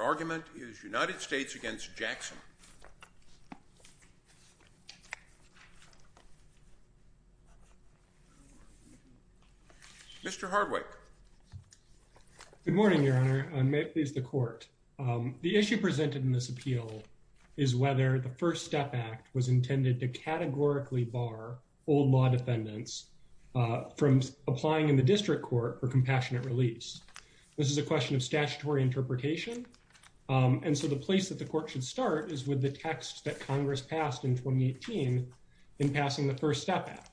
argument is United States v. Jackson. Mr. Hardwicke. Good morning, Your Honor. May it please the Court. The issue presented in this appeal is whether the First Step Act was intended to categorically bar old law defendants from applying in the district court for compassionate release. This is a question of statutory interpretation. And so the place that the court should start is with the text that Congress passed in 2018 in passing the First Step Act.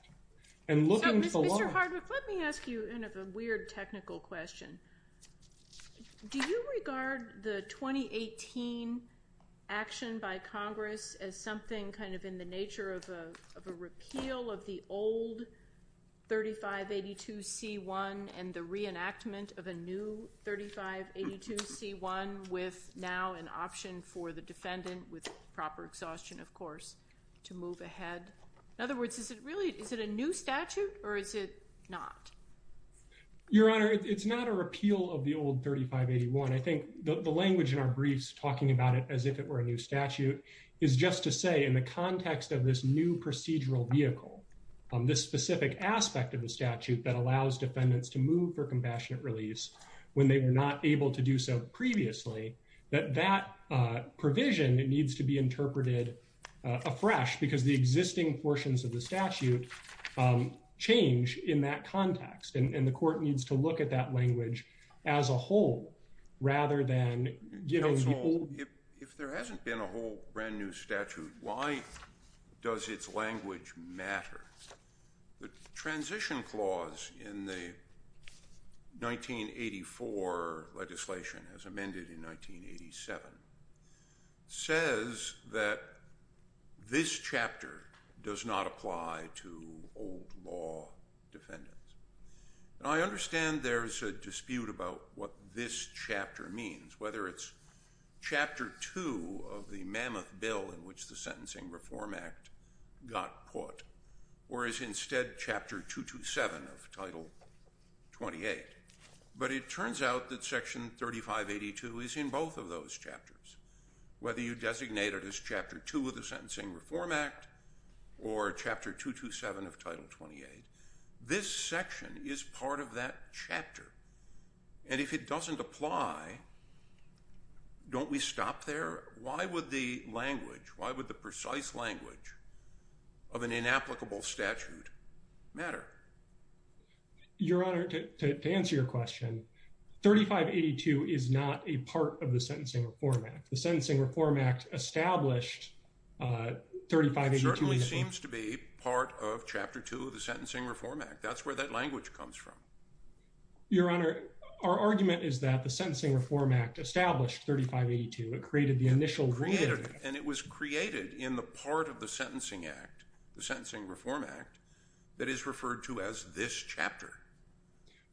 Mr. Hardwicke, let me ask you a weird technical question. Do you regard the 2018 action by Congress as something kind of in the nature of a repeal of the old 3582c1 and the reenactment of a new 3582c1 with now an option for the defendant with proper exhaustion, of course, to move ahead? In other words, is it really is it a new statute or is it not? Your Honor, it's not a repeal of the old 3581. I think the language in our briefs talking about it as if it were a new statute is just to say in the context of this new procedural vehicle, this specific aspect of the compassionate release when they were not able to do so previously, that that provision needs to be interpreted afresh because the existing portions of the statute change in that context. And the court needs to look at that language as a whole rather than, you know, the old. If there hasn't been a whole brand new statute, why does its language matter? The transition clause in the 1984 legislation as amended in 1987 says that this chapter does not apply to old law And I understand there's a dispute about what this chapter means, whether it's Chapter 2 of the Mammoth Bill in which the Sentencing Reform Act got put or is instead Chapter 227 of Title 28. But it turns out that Section 3582 is in both of those chapters, whether you designate it as Chapter 2 of the Sentencing Reform Act or Chapter 227 of Title 28. This section is part of that chapter. And if it doesn't apply, don't we stop there? Why would the language, why would the precise language of an inapplicable statute matter? Your Honor, to answer your question, 3582 is not a part of the Sentencing Reform Act. The Sentencing Reform Act established 3582. It certainly seems to be part of Chapter 2 of the Sentencing Reform Act. That's where that language comes from. Your Honor, our argument is that the Sentencing Reform Act established 3582. It created the initial ruling. And it was created in the part of the Sentencing Act, the Sentencing Reform Act, that is referred to as this chapter.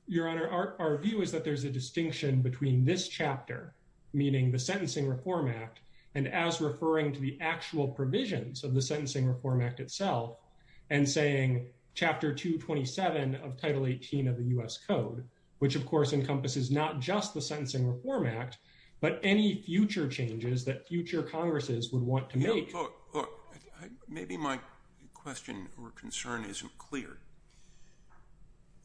Your Honor, our view is that there's a distinction between this chapter, meaning the Sentencing Reform Act, and as referring to the actual provisions of the Sentencing Reform Act itself and saying Chapter 227 of Title 18 of the U.S. Code, which, of course, encompasses not just the Sentencing Reform Act, but any future changes that future Congresses would want to make. Look, maybe my question or concern isn't clear.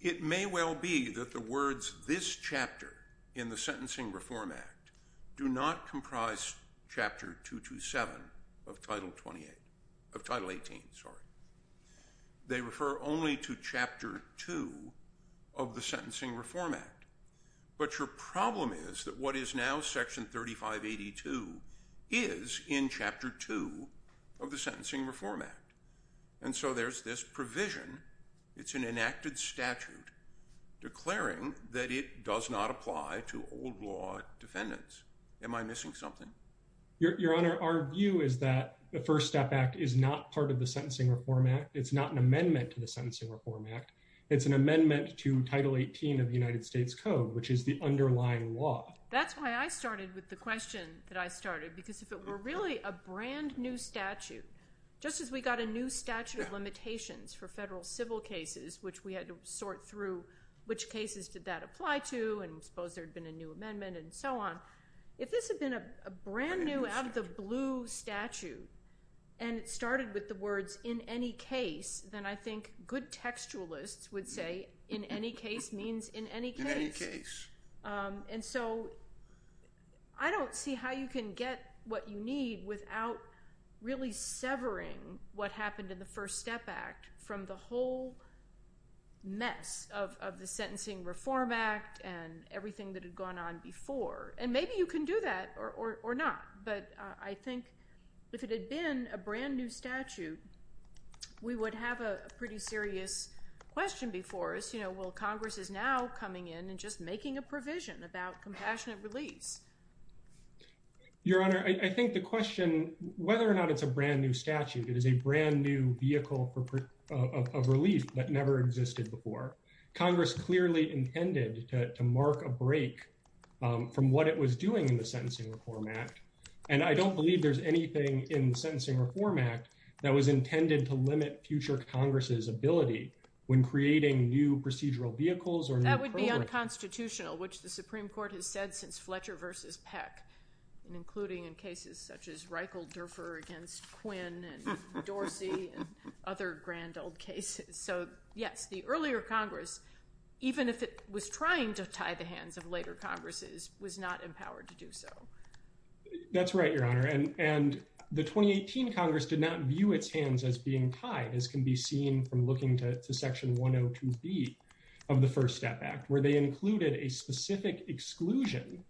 It may well be that the words this chapter in the Sentencing Reform Act do not comprise Chapter 227 of Title 18. They refer only to Chapter 2 of the Sentencing Reform Act. But your problem is that what is now Section 3582 is in Chapter 2 of the Sentencing Reform Act. And so there's this provision. It's an enacted statute declaring that it does not apply to old law defendants. Am I missing something? Your Honor, our view is that the First Step Act is not part of the Sentencing Reform Act. It's not an amendment to the Sentencing Reform Act. It's an amendment to Title 18 of the United States Code, which is the underlying law. That's why I started with the question that I started, because if it were really a brand new statute, just as we got a new statute of limitations for federal civil cases, which we had to sort through which cases did that apply to, and suppose there had been a new amendment and so on. If this had been a brand new out-of-the-blue statute and it started with the words in any case, then I think good textualists would say in any case means in any case. In any case. And so I don't see how you can get what you need without really severing what happened in the First Step Act from the whole mess of the Sentencing Reform Act and everything that had gone on before. And maybe you can do that or not. But I think if it had been a brand new statute, we would have a pretty serious question before us. You know, well, Congress is now coming in and just making a provision about compassionate release. Your Honor, I think the question, whether or not it's a brand new statute, it is a brand new vehicle of relief that never existed before. Congress clearly intended to mark a break from what it was doing in the Sentencing Reform Act. And I don't believe there's anything in the Sentencing Reform Act that was intended to limit future Congress's ability when creating new procedural vehicles or new programs. That would be unconstitutional, which the Supreme Court has said since Fletcher v. Peck, including in cases such as Reichelderfer against Quinn and Dorsey and other grand old cases. So, yes, the earlier Congress, even if it was trying to tie the hands of later Congresses, was not empowered to do so. That's right, Your Honor. And the 2018 Congress did not view its hands as being tied, as can be seen from looking to Section 102B of the First Step Act, where they included a specific exclusion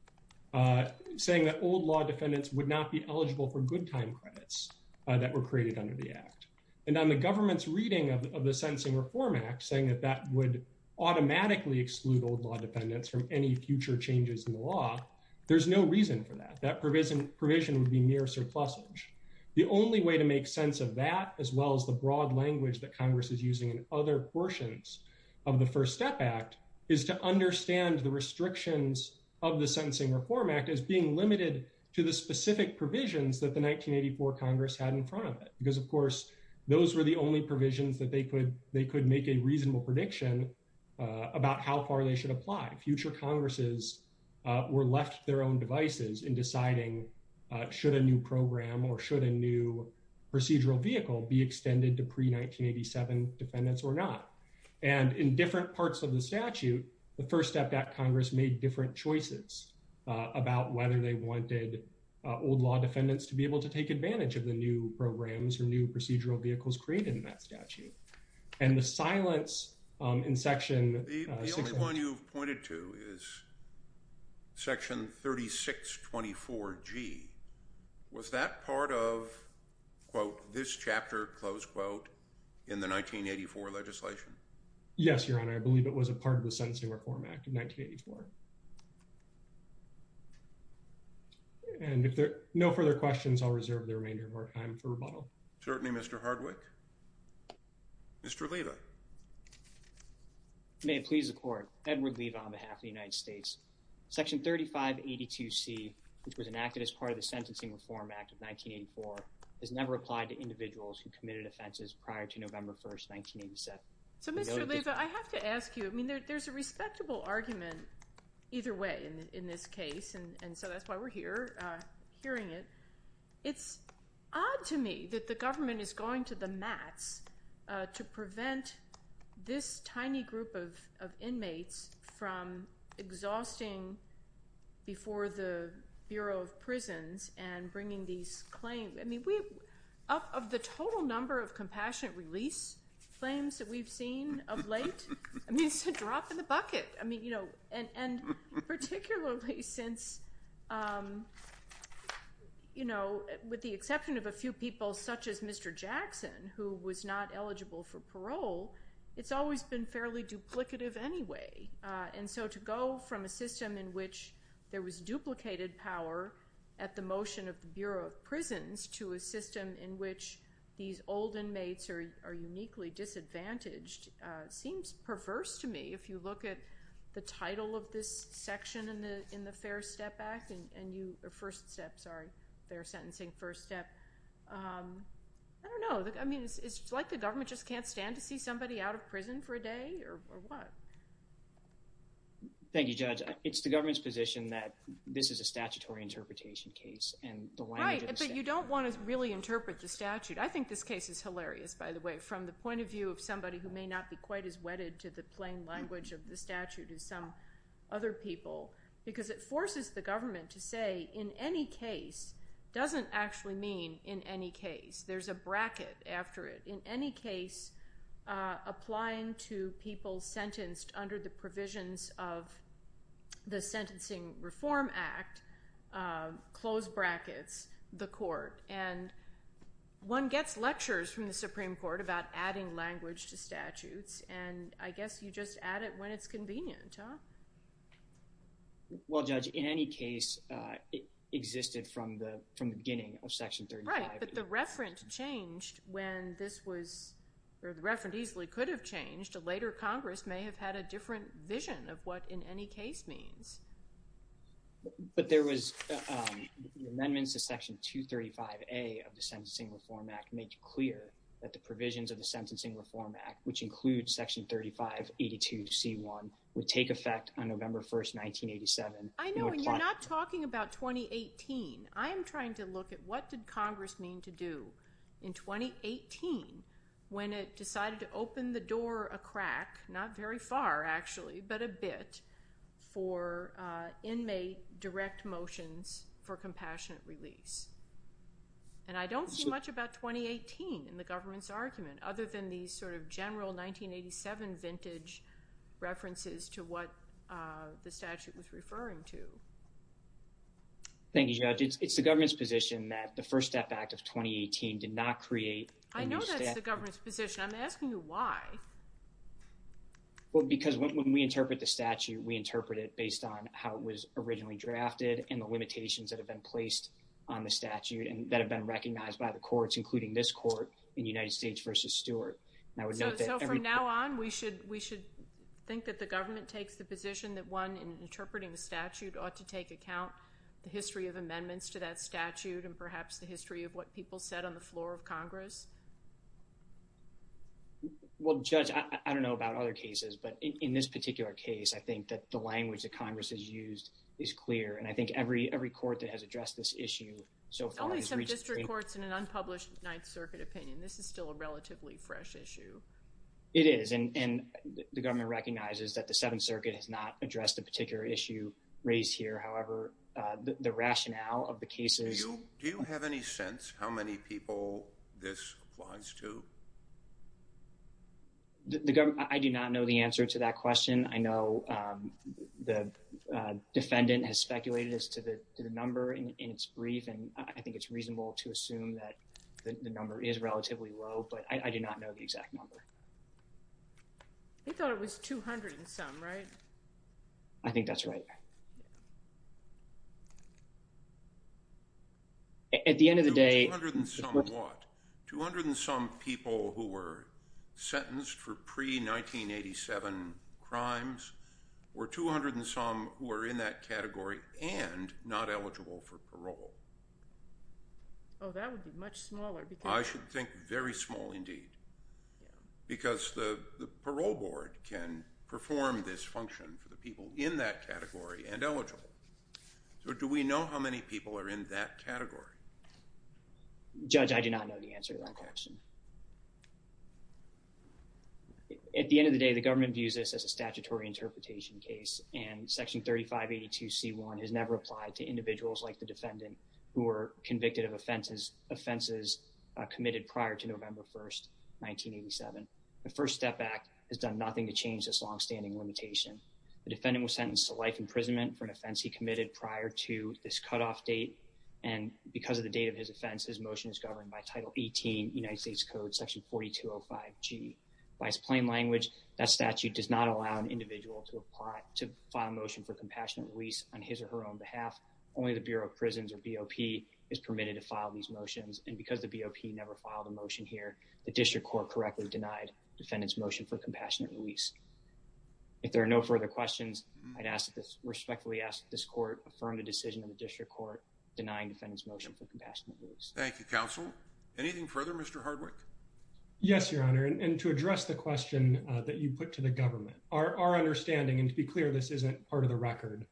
saying that old law defendants would not be eligible for good time credits that were created under the act. And on the government's reading of the Sentencing Reform Act, saying that that would automatically exclude old law defendants from any future changes in the law, there's no reason for that. That provision would be mere surplusage. The only way to make sense of that, as well as the broad language that Congress is using in other portions of the First Step Act, is to understand the restrictions of the Sentencing Reform Act as being limited to the specific provisions that the 1984 Congress had in front of it. Because, of course, those were the only provisions that they could make a reasonable prediction about how far they should apply. Future Congresses were left to their own devices in deciding, should a new program or should a new procedural vehicle be extended to pre-1987 defendants or not? And in different parts of the statute, the First Step Act Congress made different choices about whether they wanted old law defendants to be able to take advantage of the new programs or new procedural vehicles created in that statute. And the silence in Section 6- The only one you've pointed to is Section 3624G. Was that part of, quote, this chapter, close quote, in the 1984 legislation? Yes, Your Honor. I believe it was a part of the Sentencing Reform Act of 1984. And if there are no further questions, I'll reserve the remainder of our time for rebuttal. Certainly, Mr. Hardwick. Mr. Leva. May it please the Court, Edward Leva on behalf of the United States. Section 3582C, which was enacted as part of the Sentencing Reform Act of 1984, has never applied to individuals who committed offenses prior to November 1, 1987. So, Mr. Leva, I have to ask you, I mean, there's a respectable argument either way in this case, and so that's why we're here hearing it. It's odd to me that the government is going to the mats to prevent this tiny group of inmates from exhausting before the Bureau of Prisons and bringing these claims. I mean, of the total number of compassionate release claims that we've seen of late, I mean, it's a drop in the bucket. And particularly since, with the exception of a few people such as Mr. Jackson, who was not eligible for parole, it's always been fairly duplicative anyway. And so to go from a system in which there was duplicated power at the motion of the Bureau of Prisons to a system in which these old inmates are uniquely disadvantaged seems perverse to me. If you look at the title of this section in the Fair Step Act, or First Step, sorry, Fair Sentencing First Step, I don't know. I mean, it's like the government just can't stand to see somebody out of prison for a day, or what? Thank you, Judge. It's the government's position that this is a statutory interpretation case, and the language of the statute— Right, but you don't want to really interpret the statute. I think this case is hilarious, by the way, from the point of view of somebody who may not be quite as wedded to the plain language of the statute as some other people, because it forces the government to say in any case doesn't actually mean in any case. There's a bracket after it. In any case, applying to people sentenced under the provisions of the Sentencing Reform Act, close brackets, the court. And one gets lectures from the Supreme Court about adding language to statutes, and I guess you just add it when it's convenient, huh? Well, Judge, in any case, it existed from the beginning of Section 35. Right, but the referent changed when this was—or the referent easily could have changed. Later, Congress may have had a different vision of what in any case means. But there was—the amendments to Section 235A of the Sentencing Reform Act make clear that the provisions of the Sentencing Reform Act, which include Section 3582C1, would take effect on November 1, 1987. I know, and you're not talking about 2018. I am trying to look at what did Congress mean to do in 2018 when it decided to open the door a crack, not very far actually, but a bit for inmate direct motions for compassionate release. And I don't see much about 2018 in the government's argument other than these sort of general 1987 vintage references to what the statute was referring to. Thank you, Judge. It's the government's position that the First Step Act of 2018 did not create a new statute. I know that's the government's position. I'm asking you why. Well, because when we interpret the statute, we interpret it based on how it was originally drafted and the limitations that have been placed on the statute and that have been recognized by the courts, including this court in United States v. Stewart. So from now on, we should think that the government takes the position that one, in interpreting the statute, ought to take account the history of amendments to that statute and perhaps the history of what people said on the floor of Congress? Well, Judge, I don't know about other cases, but in this particular case, I think that the language that Congress has used is clear, and I think every court that has addressed this issue so far has reached the same— In district courts, in an unpublished Ninth Circuit opinion, this is still a relatively fresh issue. It is, and the government recognizes that the Seventh Circuit has not addressed a particular issue raised here. However, the rationale of the cases— Do you have any sense how many people this applies to? I do not know the answer to that question. I know the defendant has speculated as to the number in its brief, and I think it's reasonable to assume that the number is relatively low, but I do not know the exact number. They thought it was 200 and some, right? I think that's right. At the end of the day— 200 and some what? 200 and some people who were sentenced for pre-1987 crimes were 200 and some who are in that category and not eligible for parole. Oh, that would be much smaller. I should think very small indeed, because the parole board can perform this function for the people in that category and eligible. So do we know how many people are in that category? Judge, I do not know the answer to that question. At the end of the day, the government views this as a statutory interpretation case, and Section 3582C1 has never applied to individuals like the defendant who were convicted of offenses committed prior to November 1st, 1987. The FIRST STEP Act has done nothing to change this longstanding limitation. The defendant was sentenced to life imprisonment for an offense he committed prior to this cutoff date, and because of the date of his offense, his motion is governed by Title 18, United States Code, Section 4205G. By its plain language, that statute does not allow an individual to file a motion for compassionate release on his or her own behalf. Only the Bureau of Prisons, or BOP, is permitted to file these motions, and because the BOP never filed a motion here, the district court correctly denied the defendant's motion for compassionate release. If there are no further questions, I respectfully ask that this court affirm the decision of the district court denying the defendant's motion for compassionate release. Thank you, counsel. Anything further, Mr. Hardwick? Yes, Your Honor, and to address the question that you put to the government, our understanding, and to be clear, this isn't part of the record,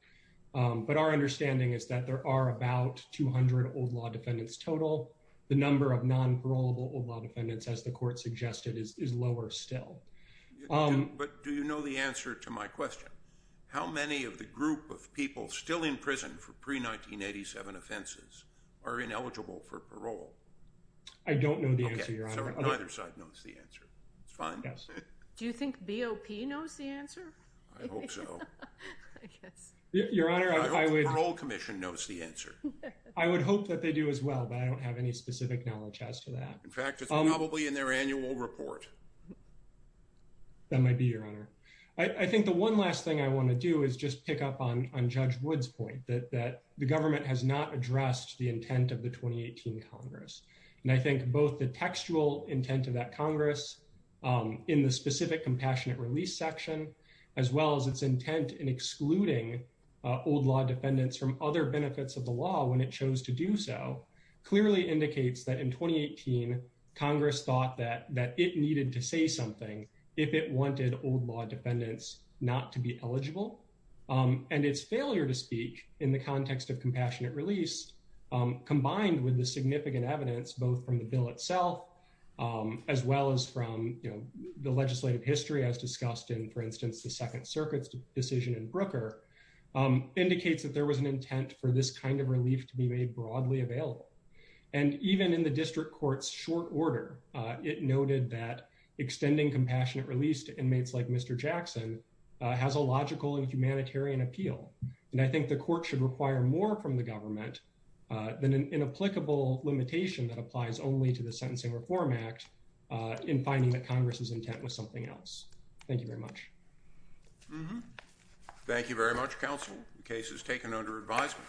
but our understanding is that there are about 200 old law defendants total. The number of non-parolable old law defendants, as the court suggested, is lower still. But do you know the answer to my question? How many of the group of people still in prison for pre-1987 offenses are ineligible for parole? I don't know the answer, Your Honor. Okay, so neither side knows the answer. It's fine. Yes. Do you think BOP knows the answer? I hope so. I guess. Your Honor, I would— I hope the Parole Commission knows the answer. I would hope that they do as well, but I don't have any specific knowledge as to that. In fact, it's probably in their annual report. That might be, Your Honor. I think the one last thing I want to do is just pick up on Judge Wood's point, that the government has not addressed the intent of the 2018 Congress. And I think both the textual intent of that Congress, in the specific compassionate release section, as well as its intent in excluding old law defendants from other benefits of the law when it chose to do so, clearly indicates that in 2018, Congress thought that it needed to say something if it wanted old law defendants not to be eligible. And its failure to speak in the context of compassionate release, combined with the significant evidence, both from the bill itself, as well as from the legislative history, as discussed in, for instance, the Second Circuit's decision in Brooker, indicates that there was an intent for this kind of relief to be made broadly available. And even in the district court's short order, it noted that extending compassionate release to inmates like Mr. Jackson has a logical and humanitarian appeal. And I think the court should require more from the government than an inapplicable limitation that applies only to the Sentencing Reform Act in finding that Congress's intent was something else. Thank you very much. Thank you very much, counsel. The case is taken under advisement.